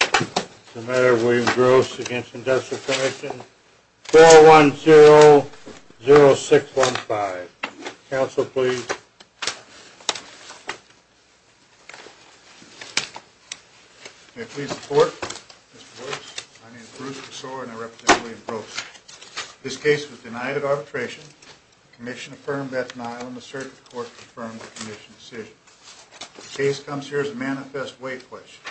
It's a matter of William Gross against industrial commission 410-0615. Counsel, please. May I please have support? Mr. Gross, my name is Bruce Kossor and I represent William Gross. This case was denied at arbitration. The commission affirmed that denial and the circuit court confirmed the commission's decision. The case comes here as a manifest weight question.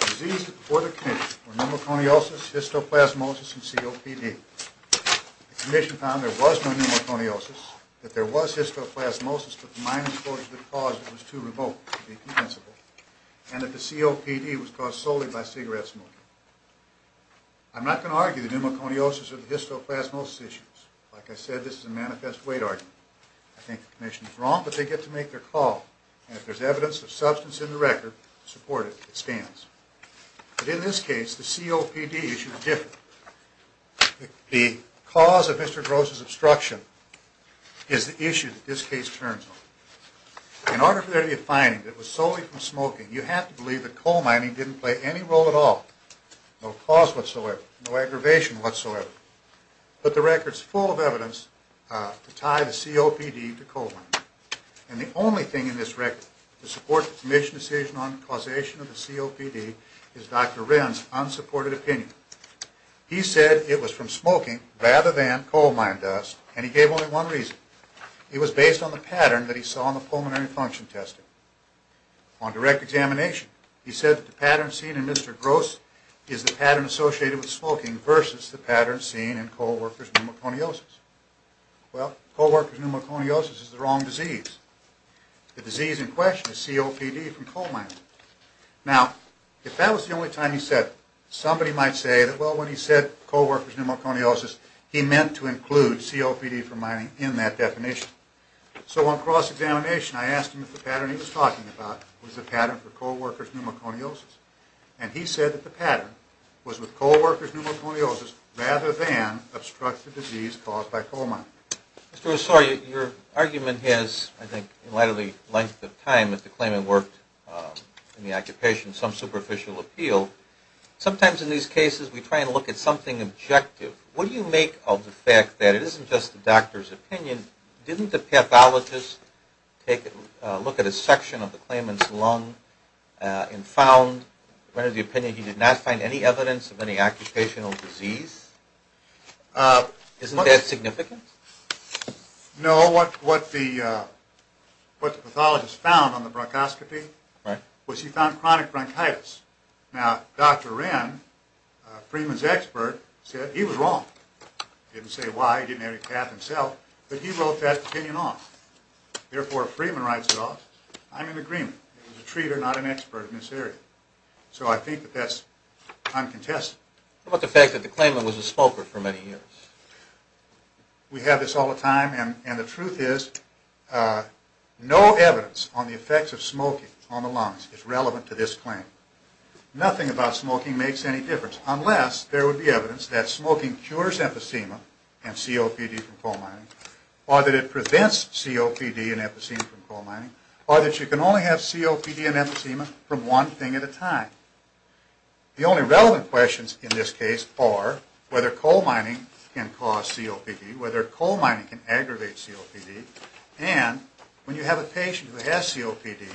The diseases before the commission were pneumoconiosis, histoplasmosis, and COPD. The commission found there was no pneumoconiosis, that there was histoplasmosis, but the minor exposure to the cause was too remote to be compensable, and that the COPD was caused solely by cigarette smoking. I'm not going to argue the pneumoconiosis or the histoplasmosis issues. Like I said, this is a manifest weight argument. I think the commission is wrong, but they get to make their call, and if there's evidence of substance in the record, support it. It stands. But in this case, the COPD issue is different. The cause of Mr. Gross' obstruction is the issue that this case turns on. In order for there to be a finding that it was solely from smoking, you have to believe that coal mining didn't play any role at all, no cause whatsoever, no aggravation whatsoever, but the record's full of evidence to tie the COPD to coal mining. And the only thing in this record to support the commission's decision on the causation of the COPD is Dr. Wren's unsupported opinion. He said it was from smoking rather than coal mine dust, and he gave only one reason. It was based on the pattern that he saw in the pulmonary function testing. On direct examination, he said that the pattern seen in Mr. Gross is the pattern associated with smoking versus the pattern seen in co-workers' pneumoconiosis. Well, co-workers' pneumoconiosis is the wrong disease. The disease in question is COPD from coal mining. Now, if that was the only time he said it, somebody might say that, well, when he said co-workers' pneumoconiosis, he meant to include COPD from mining in that definition. So on cross-examination, I asked him if the pattern he was talking about was the pattern for co-workers' pneumoconiosis, and he said that the pattern was with co-workers' pneumoconiosis rather than obstructive disease caused by coal mining. Mr. Ossorio, your argument has, I think, in light of the length of time that the claimant worked in the occupation, some superficial appeal. Sometimes in these cases, we try and look at something objective. What do you make of the fact that it isn't just the doctor's opinion? Didn't the pathologist look at a section of the claimant's lung and found, what is the opinion, he did not find any evidence of any occupational disease? Isn't that significant? No, what the pathologist found on the bronchoscopy was he found chronic bronchitis. Now, Dr. Wren, Freeman's expert, said he was wrong. He didn't say why, he didn't have any path himself, but he wrote that opinion off. Therefore, if Freeman writes it off, I'm in agreement. He's a treater, not an expert in this area. So I think that that's uncontested. What about the fact that the claimant was a smoker for many years? We have this all the time, and the truth is, no evidence on the effects of smoking on the lungs is relevant to this claim. Nothing about smoking makes any difference, unless there would be evidence that smoking cures emphysema and COPD from coal mining, or that it prevents COPD and emphysema from coal mining, or that you can only have COPD and emphysema from one thing at a time. The only relevant questions in this case are whether coal mining can cause COPD, whether coal mining can aggravate COPD, and when you have a patient who has COPD,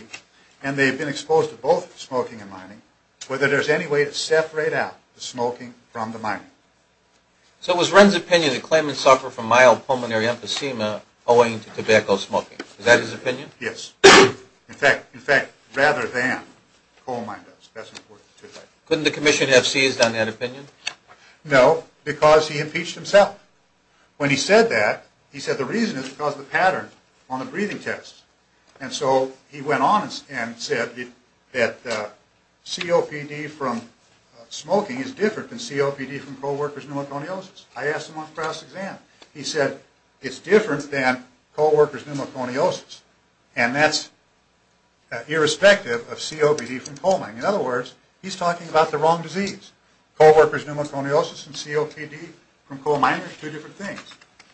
and they've been exposed to both smoking and mining, whether there's any way to separate out the smoking from the mining. So it was Wren's opinion that claimants suffer from mild pulmonary emphysema owing to tobacco smoking. Is that his opinion? Yes. In fact, rather than coal mining does. Couldn't the commission have seized on that opinion? No, because he impeached himself. When he said that, he said the reason is because of the pattern on the breathing tests. And so he went on and said that COPD from smoking is different than COPD from coal workers' pneumoconiosis. I asked him on the class exam. He said it's different than coal workers' pneumoconiosis, and that's irrespective of COPD from coal mining. In other words, he's talking about the wrong disease. Coal workers' pneumoconiosis and COPD from coal mining are two different things.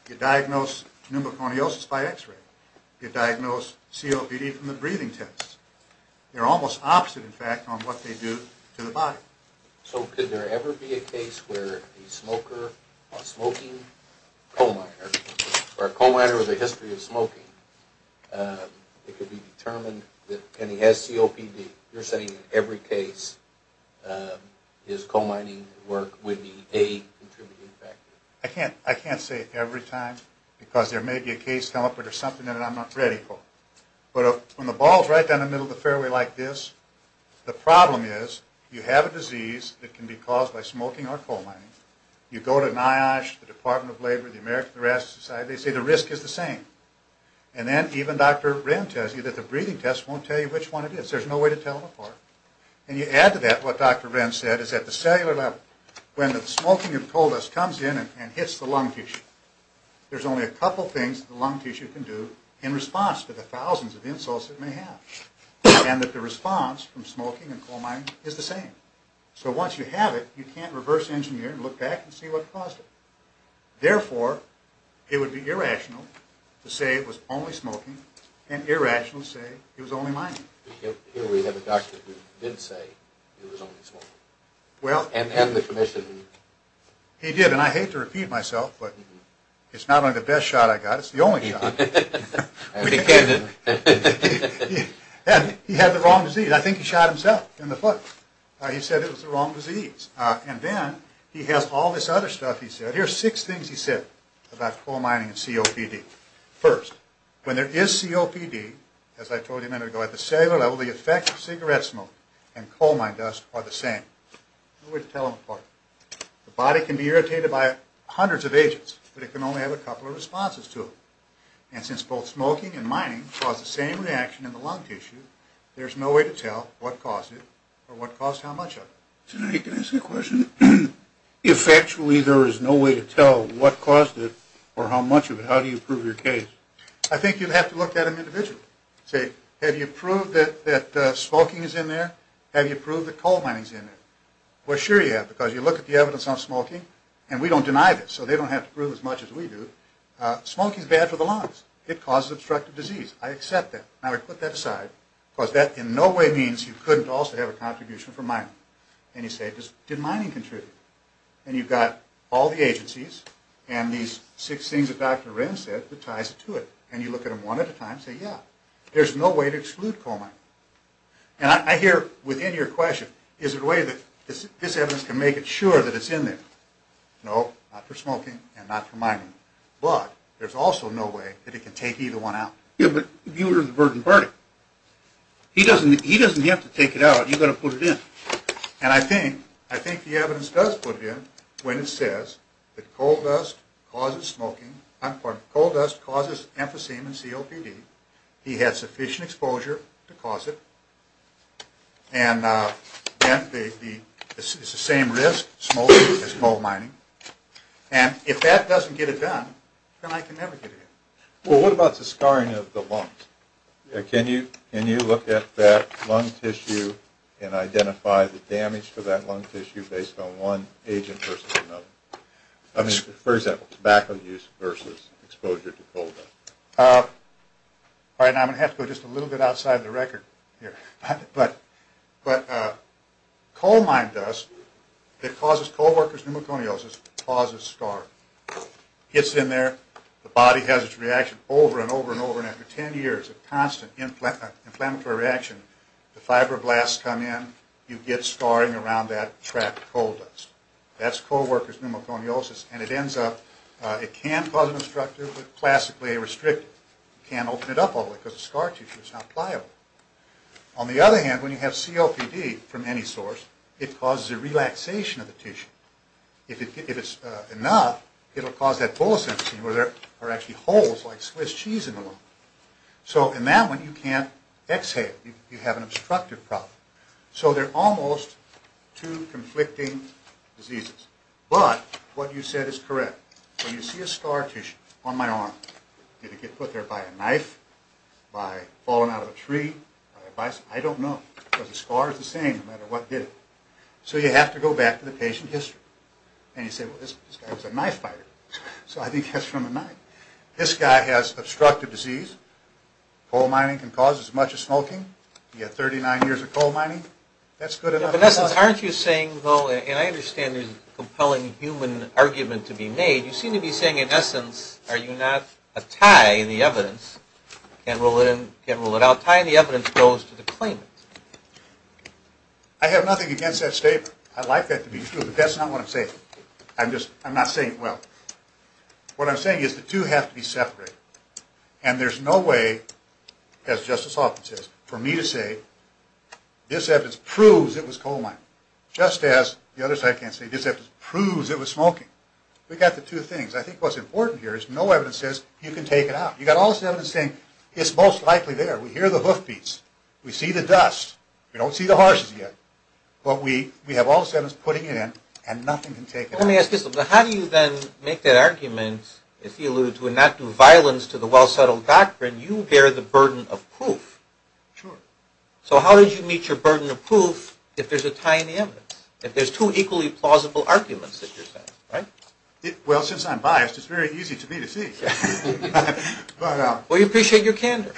You diagnose pneumoconiosis by x-ray. You diagnose COPD from the breathing tests. They're almost opposite, in fact, on what they do to the body. So could there ever be a case where a smoker, a smoking coal miner, or a coal miner with a history of smoking, it could be determined that, and he has COPD. You're saying in every case, is coal mining work would be a contributing factor? I can't say every time, because there may be a case come up where there's something that I'm not ready for. But when the ball's right down the middle of the fairway like this, the problem is you have a disease that can be caused by smoking or coal mining. You go to NIOSH, the Department of Labor, the American Arrest Society, they say the risk is the same. And then even Dr. Wren tells you that the breathing test won't tell you which one it is. There's no way to tell them apart. And you add to that what Dr. Wren said is at the cellular level, when the smoking of coal dust comes in and hits the lung tissue, there's only a couple things the lung tissue can do in response to the thousands of insults it may have. And that the response from smoking and coal mining is the same. So once you have it, you can't reverse engineer and look back and see what caused it. Therefore, it would be irrational to say it was only smoking, and irrational to say it was only mining. Here we have a doctor who did say it was only smoking. And the commission. He did, and I hate to repeat myself, but it's not only the best shot I got, it's the only shot. And he had the wrong disease. I think he shot himself in the foot. He said it was the wrong disease. And then he has all this other stuff he said. But here's six things he said about coal mining and COPD. First, when there is COPD, as I told you a minute ago, at the cellular level, the effect of cigarette smoke and coal mine dust are the same. No way to tell them apart. The body can be irritated by hundreds of agents, but it can only have a couple of responses to them. And since both smoking and mining cause the same reaction in the lung tissue, there's no way to tell what caused it or what caused how much of it. Senator, can I ask you a question? If actually there is no way to tell what caused it or how much of it, how do you prove your case? I think you'd have to look at them individually. Say, have you proved that smoking is in there? Have you proved that coal mining is in there? Well, sure you have, because you look at the evidence on smoking, and we don't deny this, so they don't have to prove as much as we do. Smoking is bad for the lungs. It causes obstructive disease. I accept that. Now we put that aside, because that in no way means you couldn't also have a contribution from mining. And you say, did mining contribute? And you've got all the agencies and these six things that Dr. Wren said that ties it to it. And you look at them one at a time and say, yeah. There's no way to exclude coal mining. And I hear within your question, is there a way that this evidence can make it sure that it's in there? No, not for smoking and not for mining. But there's also no way that it can take either one out. Yeah, but you were the burden party. He doesn't have to take it out. You've got to put it in. And I think the evidence does put it in when it says that coal dust causes smoking. I'm sorry. Coal dust causes emphysema and COPD. He had sufficient exposure to cause it. And then it's the same risk, smoking and coal mining. And if that doesn't get it done, then I can never get it in. Well, what about the scarring of the lungs? Can you look at that lung tissue and identify the damage to that lung tissue based on one agent versus another? I mean, for example, tobacco use versus exposure to coal dust. All right. Now I'm going to have to go just a little bit outside the record here. But coal mine dust that causes coal worker's pneumoconiosis causes scarring. Gets in there. The body has its reaction over and over and over. And after 10 years of constant inflammatory reaction, the fibroblasts come in. You get scarring around that trapped coal dust. That's coal worker's pneumoconiosis. And it ends up, it can cause an obstruction, but classically, it restricts it. You can't open it up all the way because the scar tissue is not pliable. On the other hand, when you have COPD from any source, it causes a relaxation of the tissue. If it's enough, it will cause that bulimicin where there are actually holes like Swiss cheese in the lung. So in that one, you can't exhale. You have an obstructive problem. So they're almost two conflicting diseases. But what you said is correct. When you see a scar tissue on my arm, did it get put there by a knife, by falling out of a tree, by a bicycle? I don't know because the scar is the same no matter what did it. So you have to go back to the patient history. And you say, well, this guy was a knife fighter. So I think that's from a knife. This guy has obstructive disease. Coal mining can cause as much as smoking. He had 39 years of coal mining. That's good enough. In essence, aren't you saying, though, and I understand there's a compelling human argument to be made, you seem to be saying in essence, are you not a tie in the evidence, can't rule it out, tie in the evidence goes to the claimant? I have nothing against that statement. I'd like that to be true. But that's not what I'm saying. I'm not saying it well. What I'm saying is the two have to be separated. And there's no way, as Justice Hoffman says, for me to say this evidence proves it was coal mining. Just as the other side can't say this evidence proves it was smoking. We've got the two things. I think what's important here is no evidence says you can take it out. You've got all this evidence saying it's most likely there. We hear the hoof beats. We see the dust. We don't see the horses yet. But we have all the evidence putting it in, and nothing can take it out. Let me ask you something. How do you then make that argument, if you alluded to, and not do violence to the well-settled doctrine, you bear the burden of proof? Sure. So how did you meet your burden of proof if there's a tie in the evidence, if there's two equally plausible arguments that you're saying? Well, since I'm biased, it's very easy to me to see. Well, you appreciate your candor.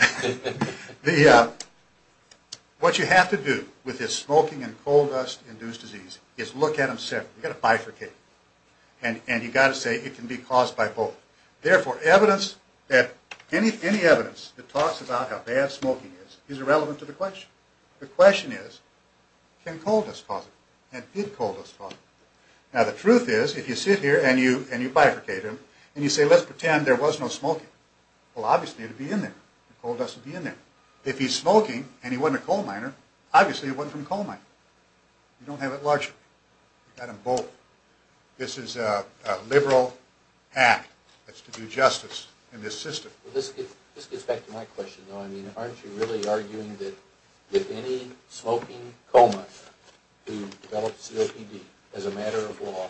What you have to do with this smoking and coal dust-induced disease is look at them separately. You've got to bifurcate. And you've got to say it can be caused by both. Therefore, any evidence that talks about how bad smoking is is irrelevant to the question. The question is, can coal dust cause it? And did coal dust cause it? Now, the truth is, if you sit here and you bifurcate them, and you say, let's pretend there was no smoking, well, obviously it would be in there. Coal dust would be in there. If he's smoking, and he wasn't a coal miner, obviously it wasn't from a coal mine. You don't have it largely. You've got them both. This is a liberal act. It's to do justice in this system. This gets back to my question, though. I mean, aren't you really arguing that if any smoking coal miner who develops COPD as a matter of law,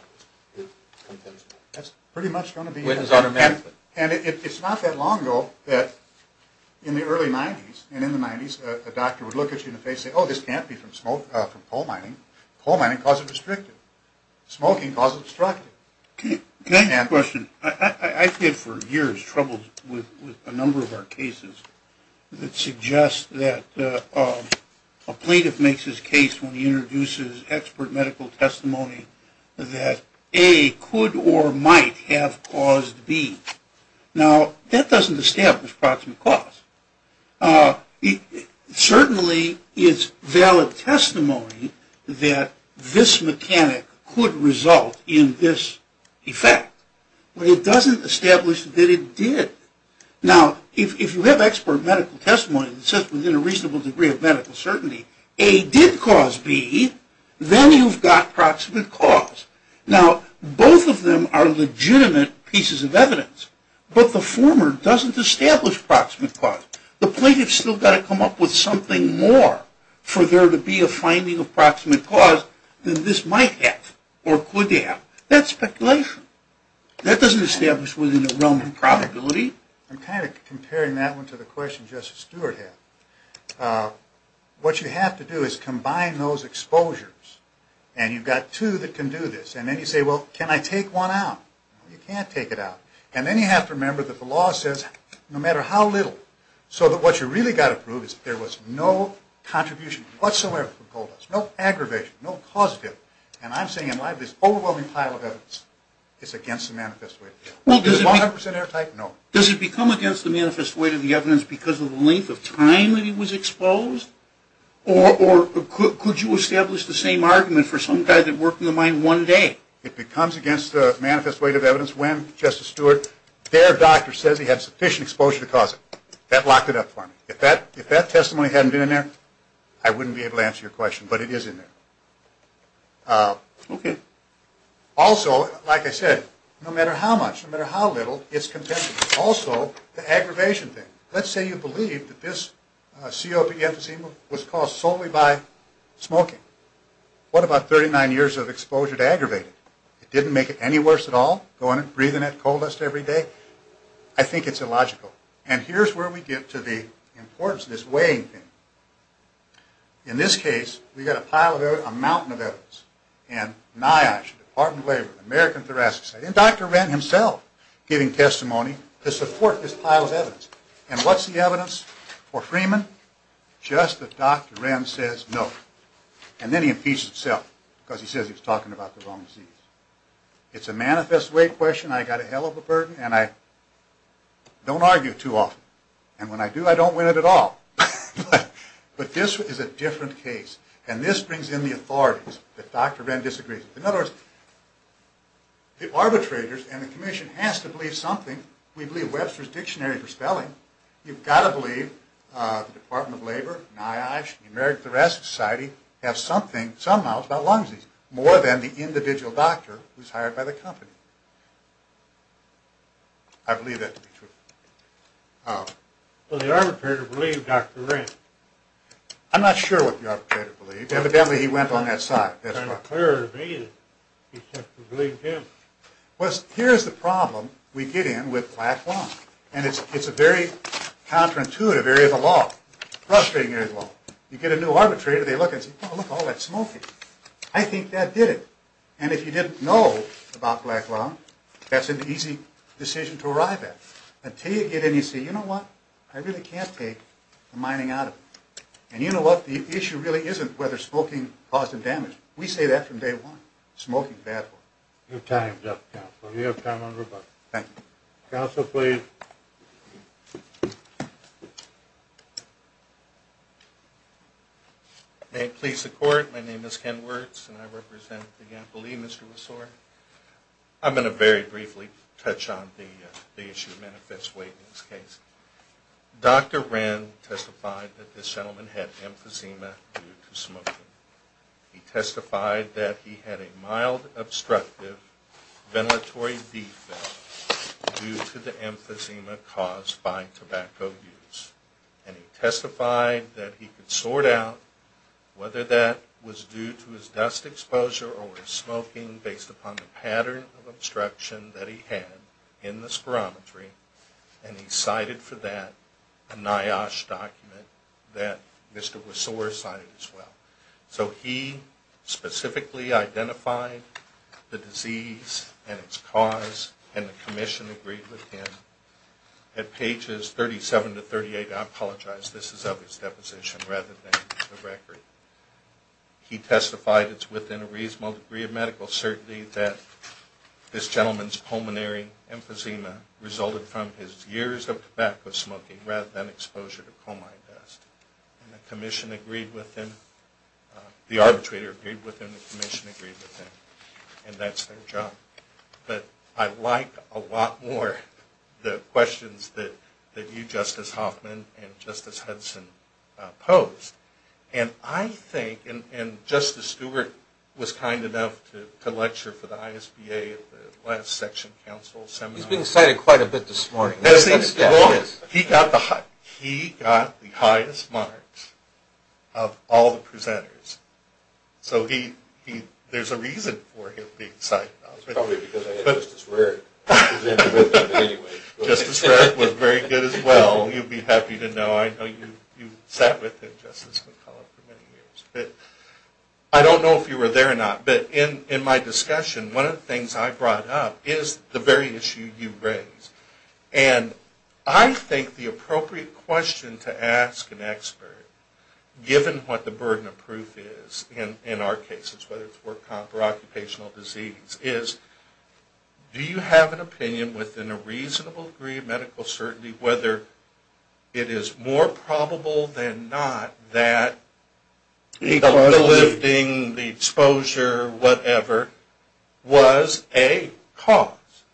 it's compensable? That's pretty much going to be it. And it's not that long ago that in the early 90s, and in the 90s, a doctor would look at you in the face and say, oh, this can't be from coal mining. Coal mining caused it restricted. Smoking caused it obstructed. Can I ask a question? I've had for years troubles with a number of our cases that suggest that a plaintiff makes his case when he introduces expert medical testimony that A could or might have caused B. Now, that doesn't establish proximate cause. Certainly it's valid testimony that this mechanic could result in this effect. But it doesn't establish that it did. Now, if you have expert medical testimony that says within a reasonable degree of medical certainty, A did cause B, then you've got proximate cause. Now, both of them are legitimate pieces of evidence. But the former doesn't establish proximate cause. The plaintiff's still got to come up with something more for there to be a finding of proximate cause than this might have or could have. That's speculation. That doesn't establish within a realm of probability. I'm kind of comparing that one to the question Justice Stewart had. What you have to do is combine those exposures. And you've got two that can do this. And then you say, well, can I take one out? You can't take it out. And then you have to remember that the law says no matter how little. So that what you really got to prove is that there was no contribution whatsoever from Goldust. No aggravation. No causative. And I'm saying in my view this overwhelming pile of evidence is against the manifest way. Is it 100% airtight? No. Does it become against the manifest weight of the evidence because of the length of time that he was exposed? Or could you establish the same argument for some guy that worked in the mine one day? It becomes against the manifest weight of evidence when, Justice Stewart, their doctor says he had sufficient exposure to cause it. That locked it up for me. If that testimony hadn't been in there, I wouldn't be able to answer your question. But it is in there. Okay. Also, like I said, no matter how much, no matter how little, it's contention. Also, the aggravation thing. Let's say you believe that this COPD emphysema was caused solely by smoking. What about 39 years of exposure to aggravated? It didn't make it any worse at all going and breathing that Goldust every day? I think it's illogical. And here's where we get to the importance of this weighing thing. In this case, we've got a pile of evidence, a mountain of evidence. And NIOSH, Department of Labor, American Thoracic Society, and Dr. Wren himself giving testimony to support this pile of evidence. And what's the evidence for Freeman? Just that Dr. Wren says no. And then he impeaches himself because he says he was talking about the wrong disease. It's a manifest weight question. I've got a hell of a burden. And I don't argue too often. And when I do, I don't win it at all. But this is a different case. And this brings in the authorities that Dr. Wren disagrees with. In other words, the arbitrators and the commission has to believe something. We believe Webster's Dictionary for spelling. You've got to believe the Department of Labor, NIOSH, and the American Thoracic Society have something, somehow, about lung disease. More than the individual doctor who's hired by the company. I believe that to be true. Well, the arbitrator believed Dr. Wren. I'm not sure what the arbitrator believed. Evidently, he went on that side. It's clear to me that he simply believed him. Well, here's the problem we get in with black lung. And it's a very counterintuitive area of the law. Frustrating area of the law. You get a new arbitrator, they look and say, oh, look at all that smoking. I think that did it. And if you didn't know about black lung, that's an easy decision to arrive at. Until you get in and you say, you know what? I really can't take the mining out of it. And you know what? The issue really isn't whether smoking caused the damage. We say that from day one. Smoking's bad for you. Your time's up, Counselor. You have time on rebuttal. Thank you. Counselor, please. May it please the Court. My name is Ken Wirtz, and I represent the Ampoulee Mystery Resort. I'm going to very briefly touch on the issue of manifest weight in this case. Dr. Wren testified that this gentleman had emphysema due to smoking. He testified that he had a mild obstructive ventilatory defect due to the emphysema caused by tobacco use. And he testified that he could sort out whether that was due to his dust exposure or smoking based upon the pattern of obstruction that he had in the spirometry. And he cited for that a NIOSH document that Mr. Wasore cited as well. So he specifically identified the disease and its cause, and the Commission agreed with him. At pages 37 to 38, I apologize, this is of his deposition rather than the record, he testified it's within a reasonable degree of medical certainty that this gentleman's pulmonary emphysema resulted from his years of tobacco smoking rather than exposure to comide dust. And the Commission agreed with him, the arbitrator agreed with him, the Commission agreed with him, and that's their job. But I like a lot more the questions that you, Justice Hoffman, and Justice Hudson posed. And I think, and Justice Stewart was kind enough to lecture for the ISBA at the last section council seminar. He's been cited quite a bit this morning. He got the highest marks of all the presenters. So there's a reason for him being cited. It's probably because I had Justice Rarick presenting with him anyway. Justice Rarick was very good as well. You'd be happy to know. I know you sat with him, Justice McCullough, for many years. But I don't know if you were there or not, but in my discussion, one of the things I brought up is the very issue you raised. And I think the appropriate question to ask an expert, given what the burden of proof is in our cases, whether it's work comp or occupational disease, is do you have an opinion within a reasonable degree of medical certainty whether it is more probable than not that the lifting, the exposure, whatever, was a cause?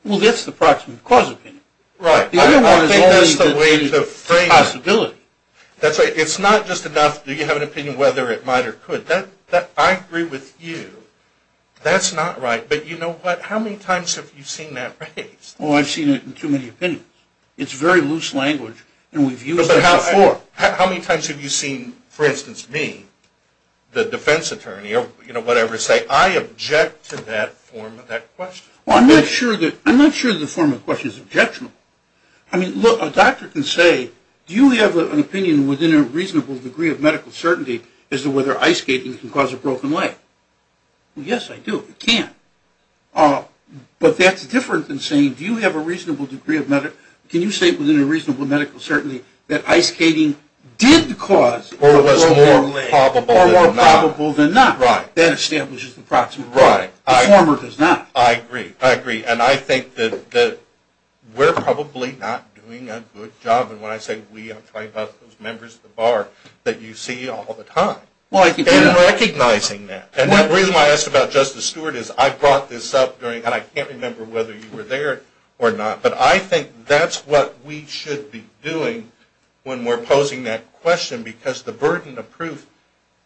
Well, that's the approximate cause opinion. Right. I don't think that's the way to frame it. Possibility. That's right. It's not just enough do you have an opinion whether it might or could. I agree with you. That's not right. But you know what? How many times have you seen that raised? Oh, I've seen it in too many opinions. It's very loose language, and we've used it before. How many times have you seen, for instance, me, the defense attorney, or, you know, whatever, say I object to that form of that question? Well, I'm not sure the form of the question is objectionable. I mean, look, a doctor can say, do you have an opinion within a reasonable degree of medical certainty as to whether ice skating can cause a broken leg? Yes, I do. It can. But that's different than saying, do you have a reasonable degree of medical – can you say within a reasonable medical certainty that ice skating did cause a broken leg. Or was more probable than not. Or more probable than not. Right. That establishes the approximate cause. Right. The former does not. I agree. I agree. And I think that we're probably not doing a good job. And when I say we, I'm talking about those members of the bar that you see all the time. Well, I do. And recognizing that. And the reason why I asked about Justice Stewart is I brought this up during – and I can't remember whether you were there or not. But I think that's what we should be doing when we're posing that question because the burden of proof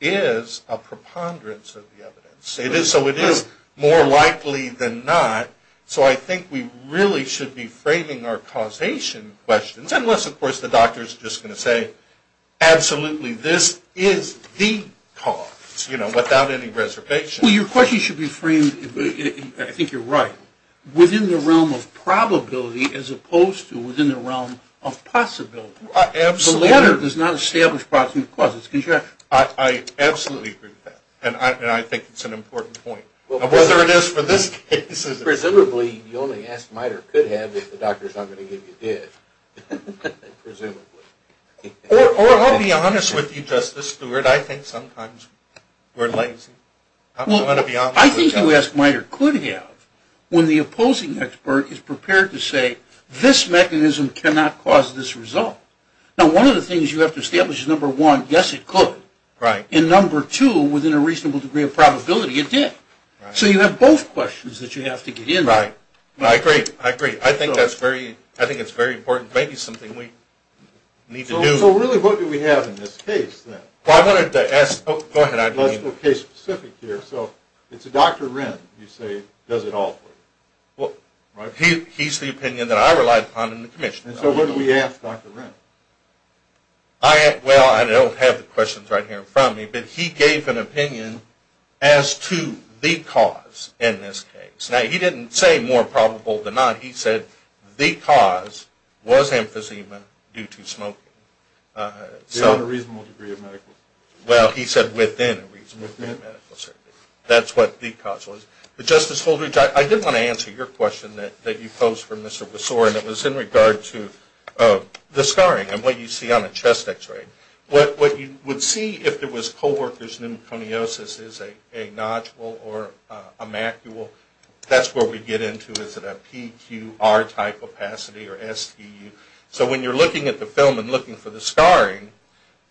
is a preponderance of the evidence. So it is more likely than not. So I think we really should be framing our causation questions, unless, of course, the doctor is just going to say, absolutely this is the cause, you know, without any reservation. Well, your question should be framed – I think you're right – within the realm of probability as opposed to within the realm of possibility. Absolutely. The lawyer does not establish approximate causes. I absolutely agree with that. And I think it's an important point. Whether it is for this case. Presumably the only ask-might-or-could-have is the doctor is not going to give you dead. Presumably. Or I'll be honest with you, Justice Stewart. I think sometimes we're lazy. I'm going to be honest with you. I think the ask-might-or-could-have, when the opposing expert is prepared to say, this mechanism cannot cause this result. Now, one of the things you have to establish is, number one, yes, it could. Right. And number two, within a reasonable degree of probability, it did. So you have both questions that you have to get in. Right. I agree. I agree. I think that's very important. Maybe it's something we need to do. So really, what do we have in this case, then? Well, I wanted to ask – go ahead. Let's go case-specific here. So it's Dr. Wren, you say, does it all for you. Well, he's the opinion that I relied upon in the commission. So what do we ask Dr. Wren? Well, I don't have the questions right here in front of me, but he gave an opinion as to the cause in this case. Now, he didn't say more probable than not. He said the cause was emphysema due to smoking. Within a reasonable degree of medical certainty. Well, he said within a reasonable degree of medical certainty. That's what the cause was. But Justice Goldridge, I did want to answer your question that you posed for Mr. Besore, and it was in regard to the scarring and what you see on a chest X-ray. What you would see if there was co-worker's pneumoconiosis is a nodule or a macule. That's where we get into is it a PQR-type opacity or SPU. So when you're looking at the film and looking for the scarring,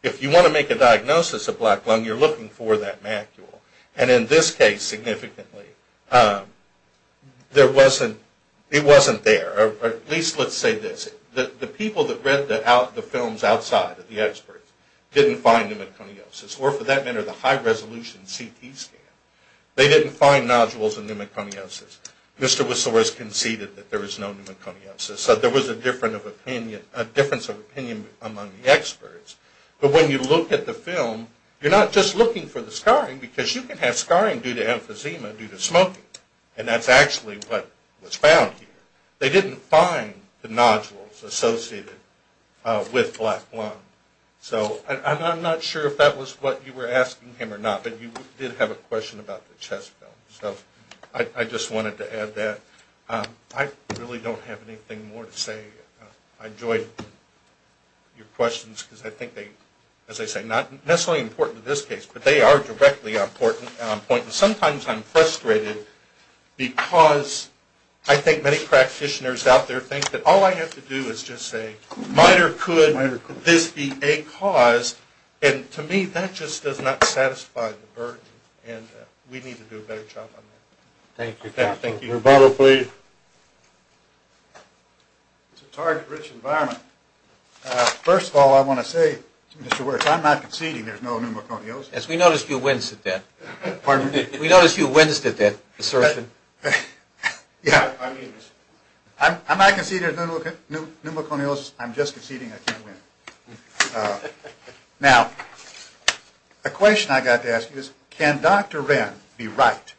if you want to make a diagnosis of black lung, you're looking for that macule. And in this case, significantly, there wasn't – it wasn't there. Or at least let's say this. The people that read the films outside of the experts didn't find pneumoconiosis or, for that matter, the high-resolution CT scan. They didn't find nodules in pneumoconiosis. Mr. Besore conceded that there was no pneumoconiosis. So there was a difference of opinion among the experts. But when you look at the film, you're not just looking for the scarring because you can have scarring due to emphysema due to smoking. And that's actually what was found here. They didn't find the nodules associated with black lung. So I'm not sure if that was what you were asking him or not, but you did have a question about the chest film. So I just wanted to add that. I really don't have anything more to say. I enjoyed your questions because I think they, as I say, not necessarily important in this case, but they are directly important. Sometimes I'm frustrated because I think many practitioners out there think that all I have to do is just say, might or could this be a cause? And to me, that just does not satisfy the burden. And we need to do a better job on that. Thank you. Thank you. Rebuttal, please. It's a target-rich environment. First of all, I want to say, Mr. Wirtz, I'm not conceding there's no pneumoconiosis. Yes, we noticed you winced at that. Pardon me? We noticed you winced at that assertion. I'm not conceding there's pneumoconiosis. I'm just conceding I can't win. Now, a question I got to ask you is, can Dr. Ren be right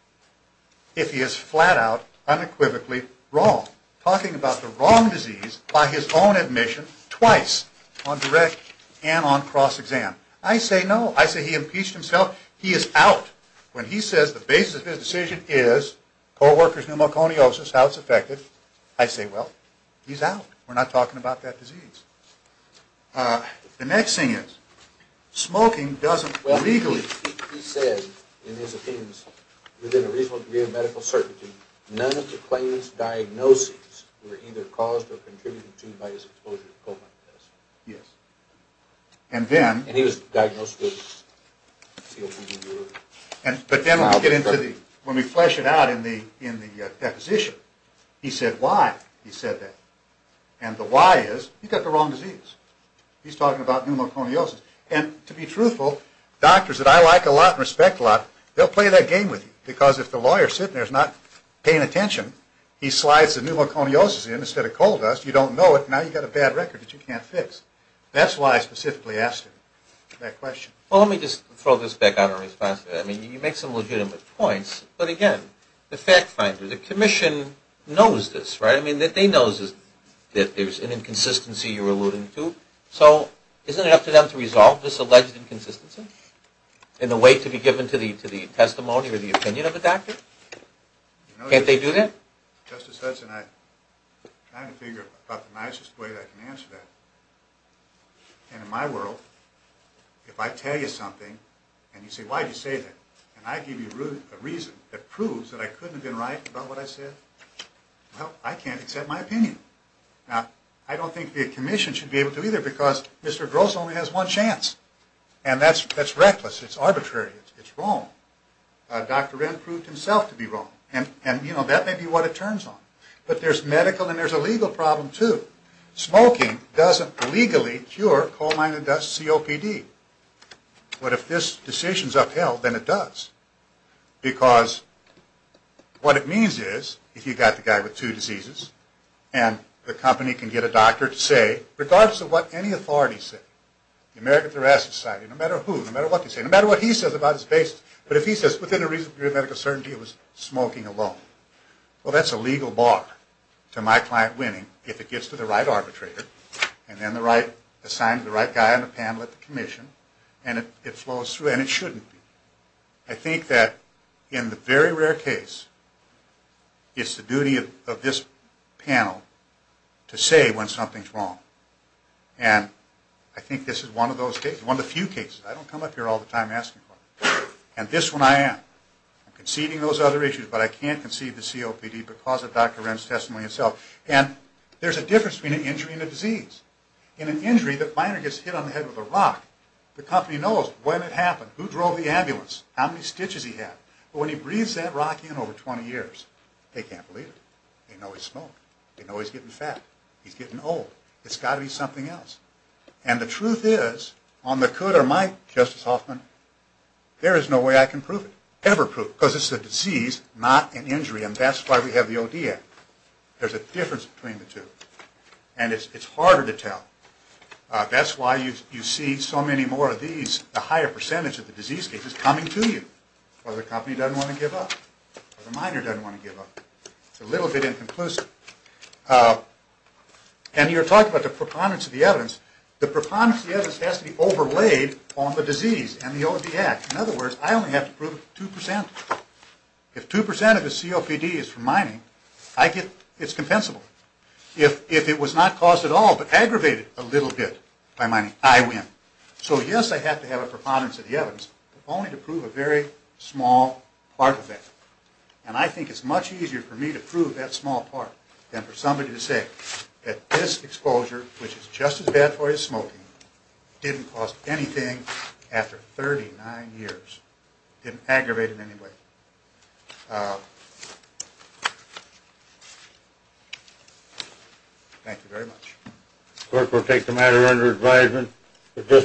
if he is flat-out, unequivocally wrong, talking about the wrong disease by his own admission twice, on direct and on cross-exam? I say no. I say he impeached himself. He is out. When he says the basis of his decision is co-workers' pneumoconiosis, how it's affected, I say, well, he's out. We're not talking about that disease. The next thing is, smoking doesn't legally – He said, in his opinions, within a reasonable degree of medical certainty, none of the claims diagnoses were either caused or contributed to by his exposure to colon medicine. Yes. And then – And he was diagnosed with COPD. But then when we flesh it out in the deposition, he said why he said that. And the why is, he got the wrong disease. He's talking about pneumoconiosis. And to be truthful, doctors that I like a lot and respect a lot, they'll play that game with you. Because if the lawyer sitting there is not paying attention, he slides the pneumoconiosis in instead of coal dust. You don't know it. Now you've got a bad record that you can't fix. That's why I specifically asked him that question. Well, let me just throw this back out in response to that. I mean, you make some legitimate points. But again, the fact finder, the commission, knows this, right? I mean, they know that there's an inconsistency you're alluding to. So isn't it up to them to resolve this alleged inconsistency in a way to be given to the testimony or the opinion of a doctor? Can't they do that? Justice Hudson, I'm trying to figure out the nicest way I can answer that. And in my world, if I tell you something and you say, why did you say that, and I give you a reason that proves that I couldn't have been right about what I said, well, I can't accept my opinion. Now, I don't think the commission should be able to either because Mr. Gross only has one chance. And that's reckless. It's arbitrary. It's wrong. Dr. Wren proved himself to be wrong. And, you know, that may be what it turns on. But there's medical and there's a legal problem, too. Smoking doesn't legally cure coal mine and dust COPD. But if this decision's upheld, then it does. Because what it means is, if you've got the guy with two diseases and the company can get a doctor to say, regardless of what any authority say, the American Thoracic Society, no matter who, no matter what they say, no matter what he says about his basis, but if he says, within a reasonable degree of medical certainty, it was smoking alone. Well, that's a legal bar to my client winning if it gets to the right arbitrator and then assigned to the right guy on the panel at the commission, and it flows through, and it shouldn't be. I think that, in the very rare case, it's the duty of this panel to say when something's wrong. And I think this is one of those cases, one of the few cases. I don't come up here all the time asking for it. And this one I am. I'm conceiving those other issues, but I can't conceive the COPD because of Dr. Wren's testimony himself. And there's a difference between an injury and a disease. In an injury, the miner gets hit on the head with a rock. The company knows when it happened, who drove the ambulance, how many stitches he had. But when he breathes that rock in over 20 years, they can't believe it. They know he smoked. They know he's getting fat. He's getting old. It's got to be something else. And the truth is, on the could or might, Justice Hoffman, there is no way I can prove it, ever prove it, because it's a disease, not an injury. And that's why we have the O.D. Act. There's a difference between the two. And it's harder to tell. That's why you see so many more of these, the higher percentage of the disease cases, coming to you. Or the company doesn't want to give up. Or the miner doesn't want to give up. It's a little bit inconclusive. And you're talking about the preponderance of the evidence. The preponderance of the evidence has to be overlaid on the disease and the O.D. Act. In other words, I only have to prove 2%. If 2% of the COPD is from mining, it's compensable. If it was not caused at all, but aggravated a little bit by mining, I win. So, yes, I have to have a preponderance of the evidence, only to prove a very small part of that. And I think it's much easier for me to prove that small part than for somebody to say that this exposure, which is just as bad for you as smoking, didn't cause anything after 39 years. It didn't aggravate it in any way. Thank you very much.